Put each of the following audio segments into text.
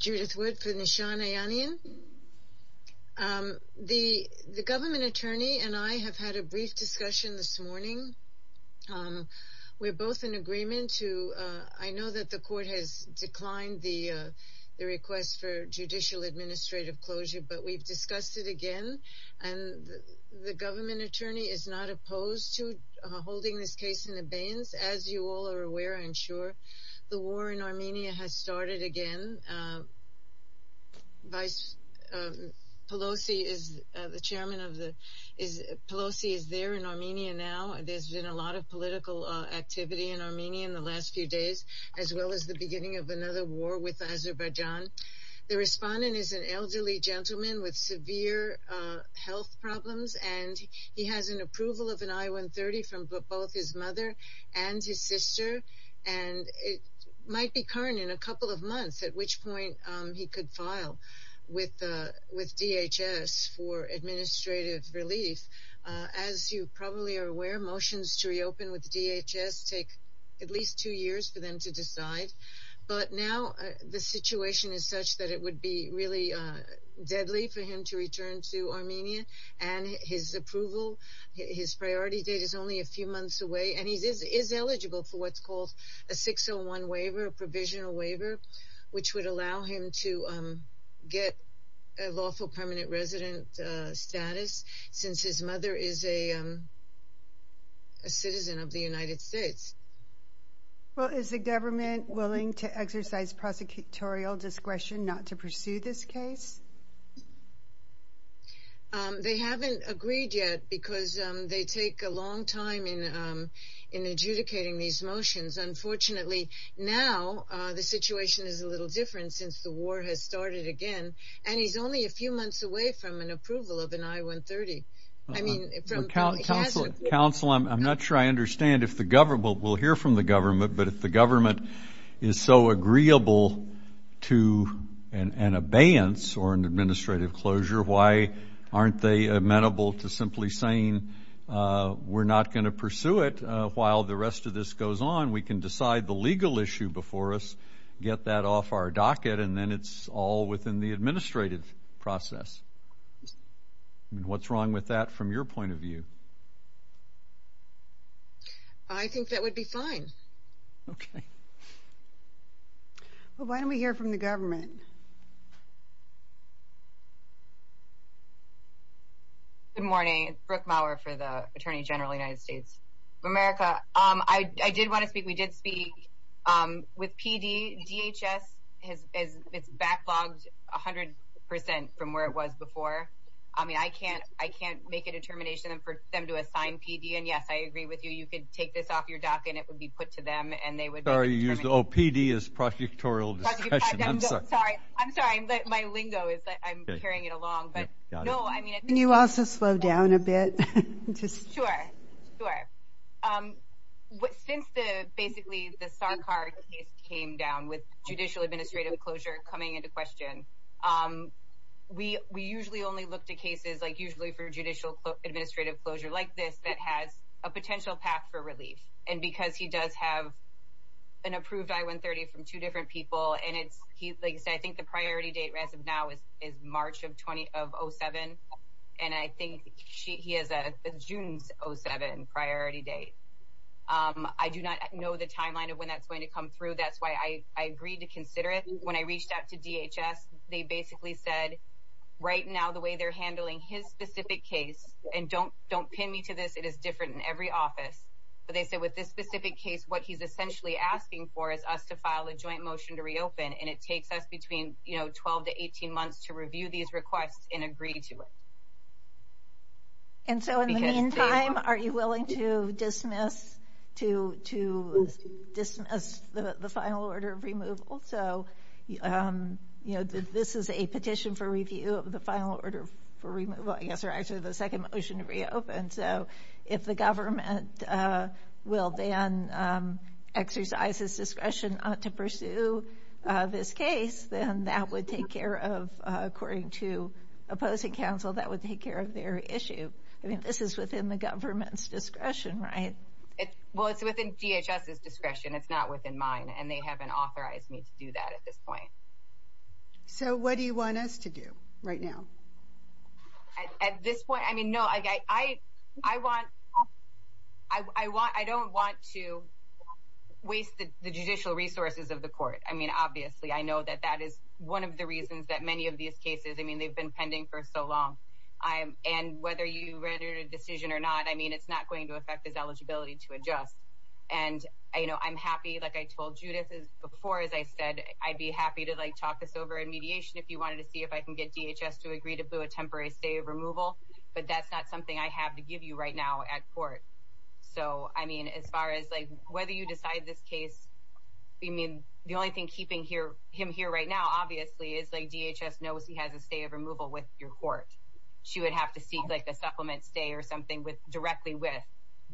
Judith Wood for Nshan Ayanian The government attorney and I have had a brief discussion this morning. We're both in agreement. I know that the court has declined the request for judicial administrative closure, but we've discussed it again. The government attorney is not opposed to holding this case in abeyance. As you all are aware, I'm sure, the war in Armenia has started again. Pelosi is there in Armenia now. There's been a lot of political activity in Armenia in the last few days, as well as the beginning of another war with Azerbaijan. The respondent is an elderly gentleman with severe health problems, and he has an approval of an I-130 from both his mother and his sister. It might be current in a couple of months, at which point he could file with DHS for administrative relief. As you probably are aware, motions to reopen with DHS take at least two years for them to decide, but now the situation is such that it would be really deadly for him to return to Armenia. His priority date is only a few months away, and he is eligible for what's called a 601 waiver, a provisional waiver, which would allow him to get a lawful permanent resident status, since his mother is a citizen of the United States. Well, is the government willing to exercise prosecutorial discretion not to pursue this case? They haven't agreed yet, because they take a long time in adjudicating these motions. Unfortunately, now the situation is a little different, since the war has started again, and he's only a few months away from an approval of an I-130. Counsel, I'm not sure I understand if the government will hear from the government, but if the government is so agreeable to an abeyance or an administrative closure, why aren't they amenable to simply saying we're not going to pursue it while the rest of this goes on? We can decide the legal issue before us, get that off our docket, and then it's all within the administrative process. What's wrong with that from your point of view? I think that would be fine. Okay. Well, why don't we hear from the government? Good morning. It's Brooke Maurer for the Attorney General of the United States of America. I did want to speak. We did speak. With PD, DHS, it's backlogged 100 percent from where it was before. I mean, I can't make a determination for them to assign PD. And, yes, I agree with you. You could take this off your docket, and it would be put to them, and they would be able to determine it. Sorry, you used OPD as prosecutorial discretion. I'm sorry, but my lingo is that I'm carrying it along. Can you also slow down a bit? Sure, sure. Since basically the Sarkar case came down with judicial administrative closure coming into question, we usually only look to cases like usually for judicial administrative closure like this that has a potential path for relief. And because he does have an approved I-130 from two different people, and, like I said, I think the priority date as of now is March of 2007, and I think he has a June 2007 priority date. I do not know the timeline of when that's going to come through. That's why I agreed to consider it. When I reached out to DHS, they basically said, right now, the way they're handling his specific case, and don't pin me to this, it is different in every office, but they said with this specific case, what he's essentially asking for is us to file a joint motion to reopen, and it takes us between 12 to 18 months to review these requests and agree to it. And so in the meantime, are you willing to dismiss the final order of removal? This is a petition for review of the final order for removal, I guess, or actually the second motion to reopen. So if the government will then exercise its discretion to pursue this case, then that would take care of, according to opposing counsel, that would take care of their issue. I mean, this is within the government's discretion, right? Well, it's within DHS's discretion. It's not within mine, and they haven't authorized me to do that at this point. So what do you want us to do right now? At this point, I mean, no, I don't want to waste the judicial resources of the court. I mean, obviously, I know that that is one of the reasons that many of these cases, I mean, they've been pending for so long. And whether you render a decision or not, I mean, it's not going to affect his eligibility to adjust. And I'm happy, like I told Judith before, as I said, I'd be happy to talk this over in mediation if you wanted to see if I can get DHS to agree to a temporary stay of removal. But that's not something I have to give you right now at court. So, I mean, as far as, like, whether you decide this case, I mean, the only thing keeping him here right now, obviously, is, like, DHS knows he has a stay of removal with your court. She would have to seek, like, a supplement stay or something directly with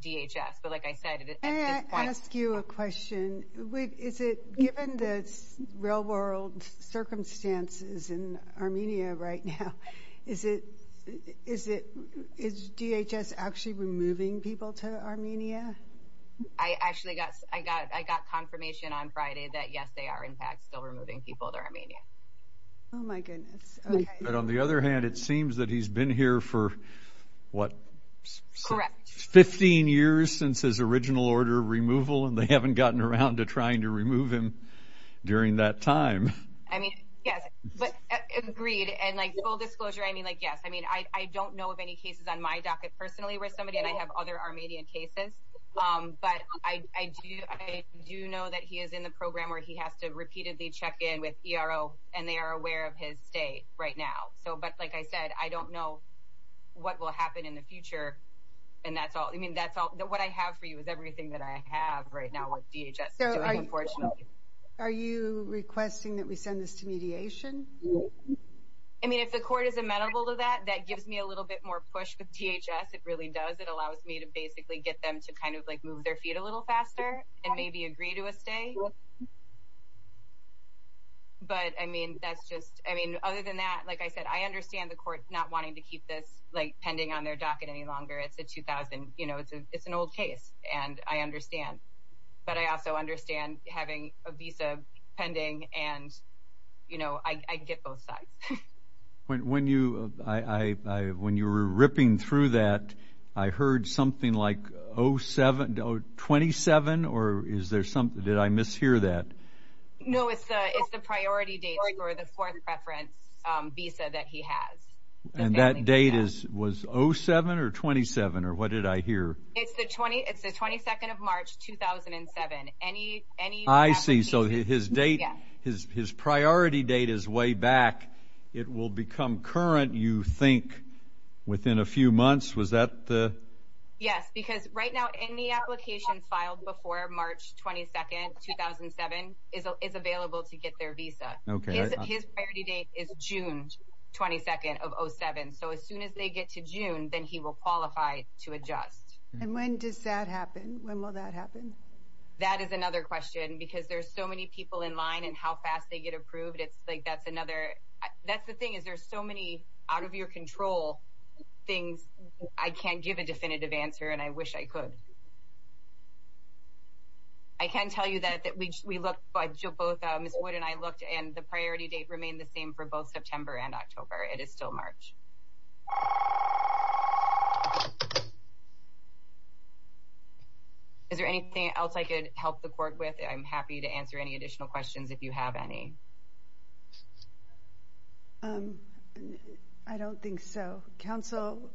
DHS. But, like I said, at this point— Can I ask you a question? Given the real-world circumstances in Armenia right now, is DHS actually removing people to Armenia? I actually got confirmation on Friday that, yes, they are in fact still removing people to Armenia. Oh, my goodness. But on the other hand, it seems that he's been here for, what, 15 years since his original order of removal, and they haven't gotten around to trying to remove him during that time. I mean, yes. But agreed. And, like, full disclosure, I mean, like, yes. I mean, I don't know of any cases on my docket personally where somebody— And I have other Armenian cases. But I do know that he is in the program where he has to repeatedly check in with ERO, and they are aware of his stay right now. But, like I said, I don't know what will happen in the future. And that's all. I mean, that's all. What I have for you is everything that I have right now with DHS. So are you requesting that we send this to mediation? I mean, if the court is amenable to that, that gives me a little bit more push. With DHS, it really does. It allows me to basically get them to kind of, like, move their feet a little faster and maybe agree to a stay. But, I mean, that's just—I mean, other than that, like I said, I understand the court not wanting to keep this, like, pending on their docket any longer. It's a 2000—you know, it's an old case, and I understand. But I also understand having a visa pending, and, you know, I get both sides. When you were ripping through that, I heard something like 07—27? Or is there something—did I mishear that? No, it's the priority date for the fourth preference visa that he has. And that date was 07 or 27, or what did I hear? It's the 22nd of March, 2007. I see. So his date—his priority date is way back. It will become current, you think, within a few months. Was that the— Yes, because right now, any applications filed before March 22nd, 2007 is available to get their visa. Okay. His priority date is June 22nd of 07. So as soon as they get to June, then he will qualify to adjust. And when does that happen? When will that happen? That is another question because there's so many people in line and how fast they get approved. It's like that's another—that's the thing is there's so many out-of-your-control things. I can't give a definitive answer, and I wish I could. I can tell you that we looked—both Ms. Wood and I looked, and the priority date remained the same for both September and October. It is still March. Is there anything else I could help the court with? I'm happy to answer any additional questions if you have any. I don't think so. Counsel,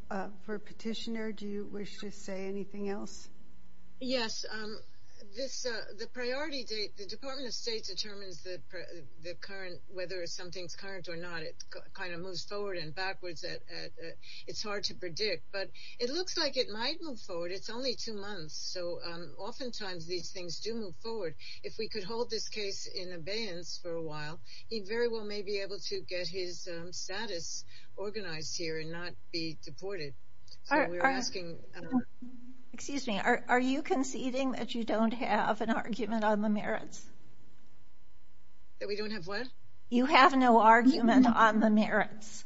for Petitioner, do you wish to say anything else? Yes. The priority date, the Department of State determines the current—whether something's current or not. It kind of moves forward and backwards. It's hard to predict, but it looks like it might move forward. It's only two months, so oftentimes these things do move forward. If we could hold this case in abeyance for a while, he very well may be able to get his status organized here and not be deported. So we're asking— Excuse me. Are you conceding that you don't have an argument on the merits? That we don't have what? You have no argument on the merits.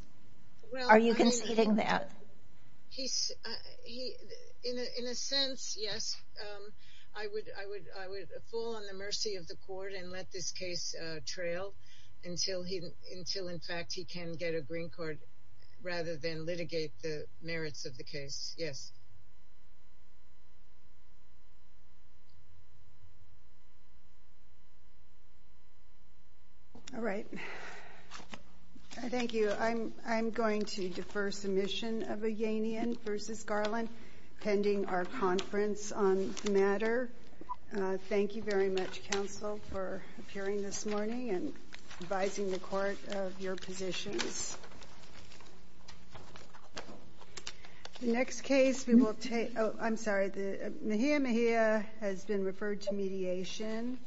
Are you conceding that? In a sense, yes. I would fall on the mercy of the court and let this case trail until, in fact, he can get a green card rather than litigate the merits of the case. Yes. All right. Thank you. So I'm going to defer submission of a Yanian v. Garland pending our conference on the matter. Thank you very much, counsel, for appearing this morning and advising the court of your positions. The next case we will take—oh, I'm sorry. Mejia Mejia has been referred to mediation.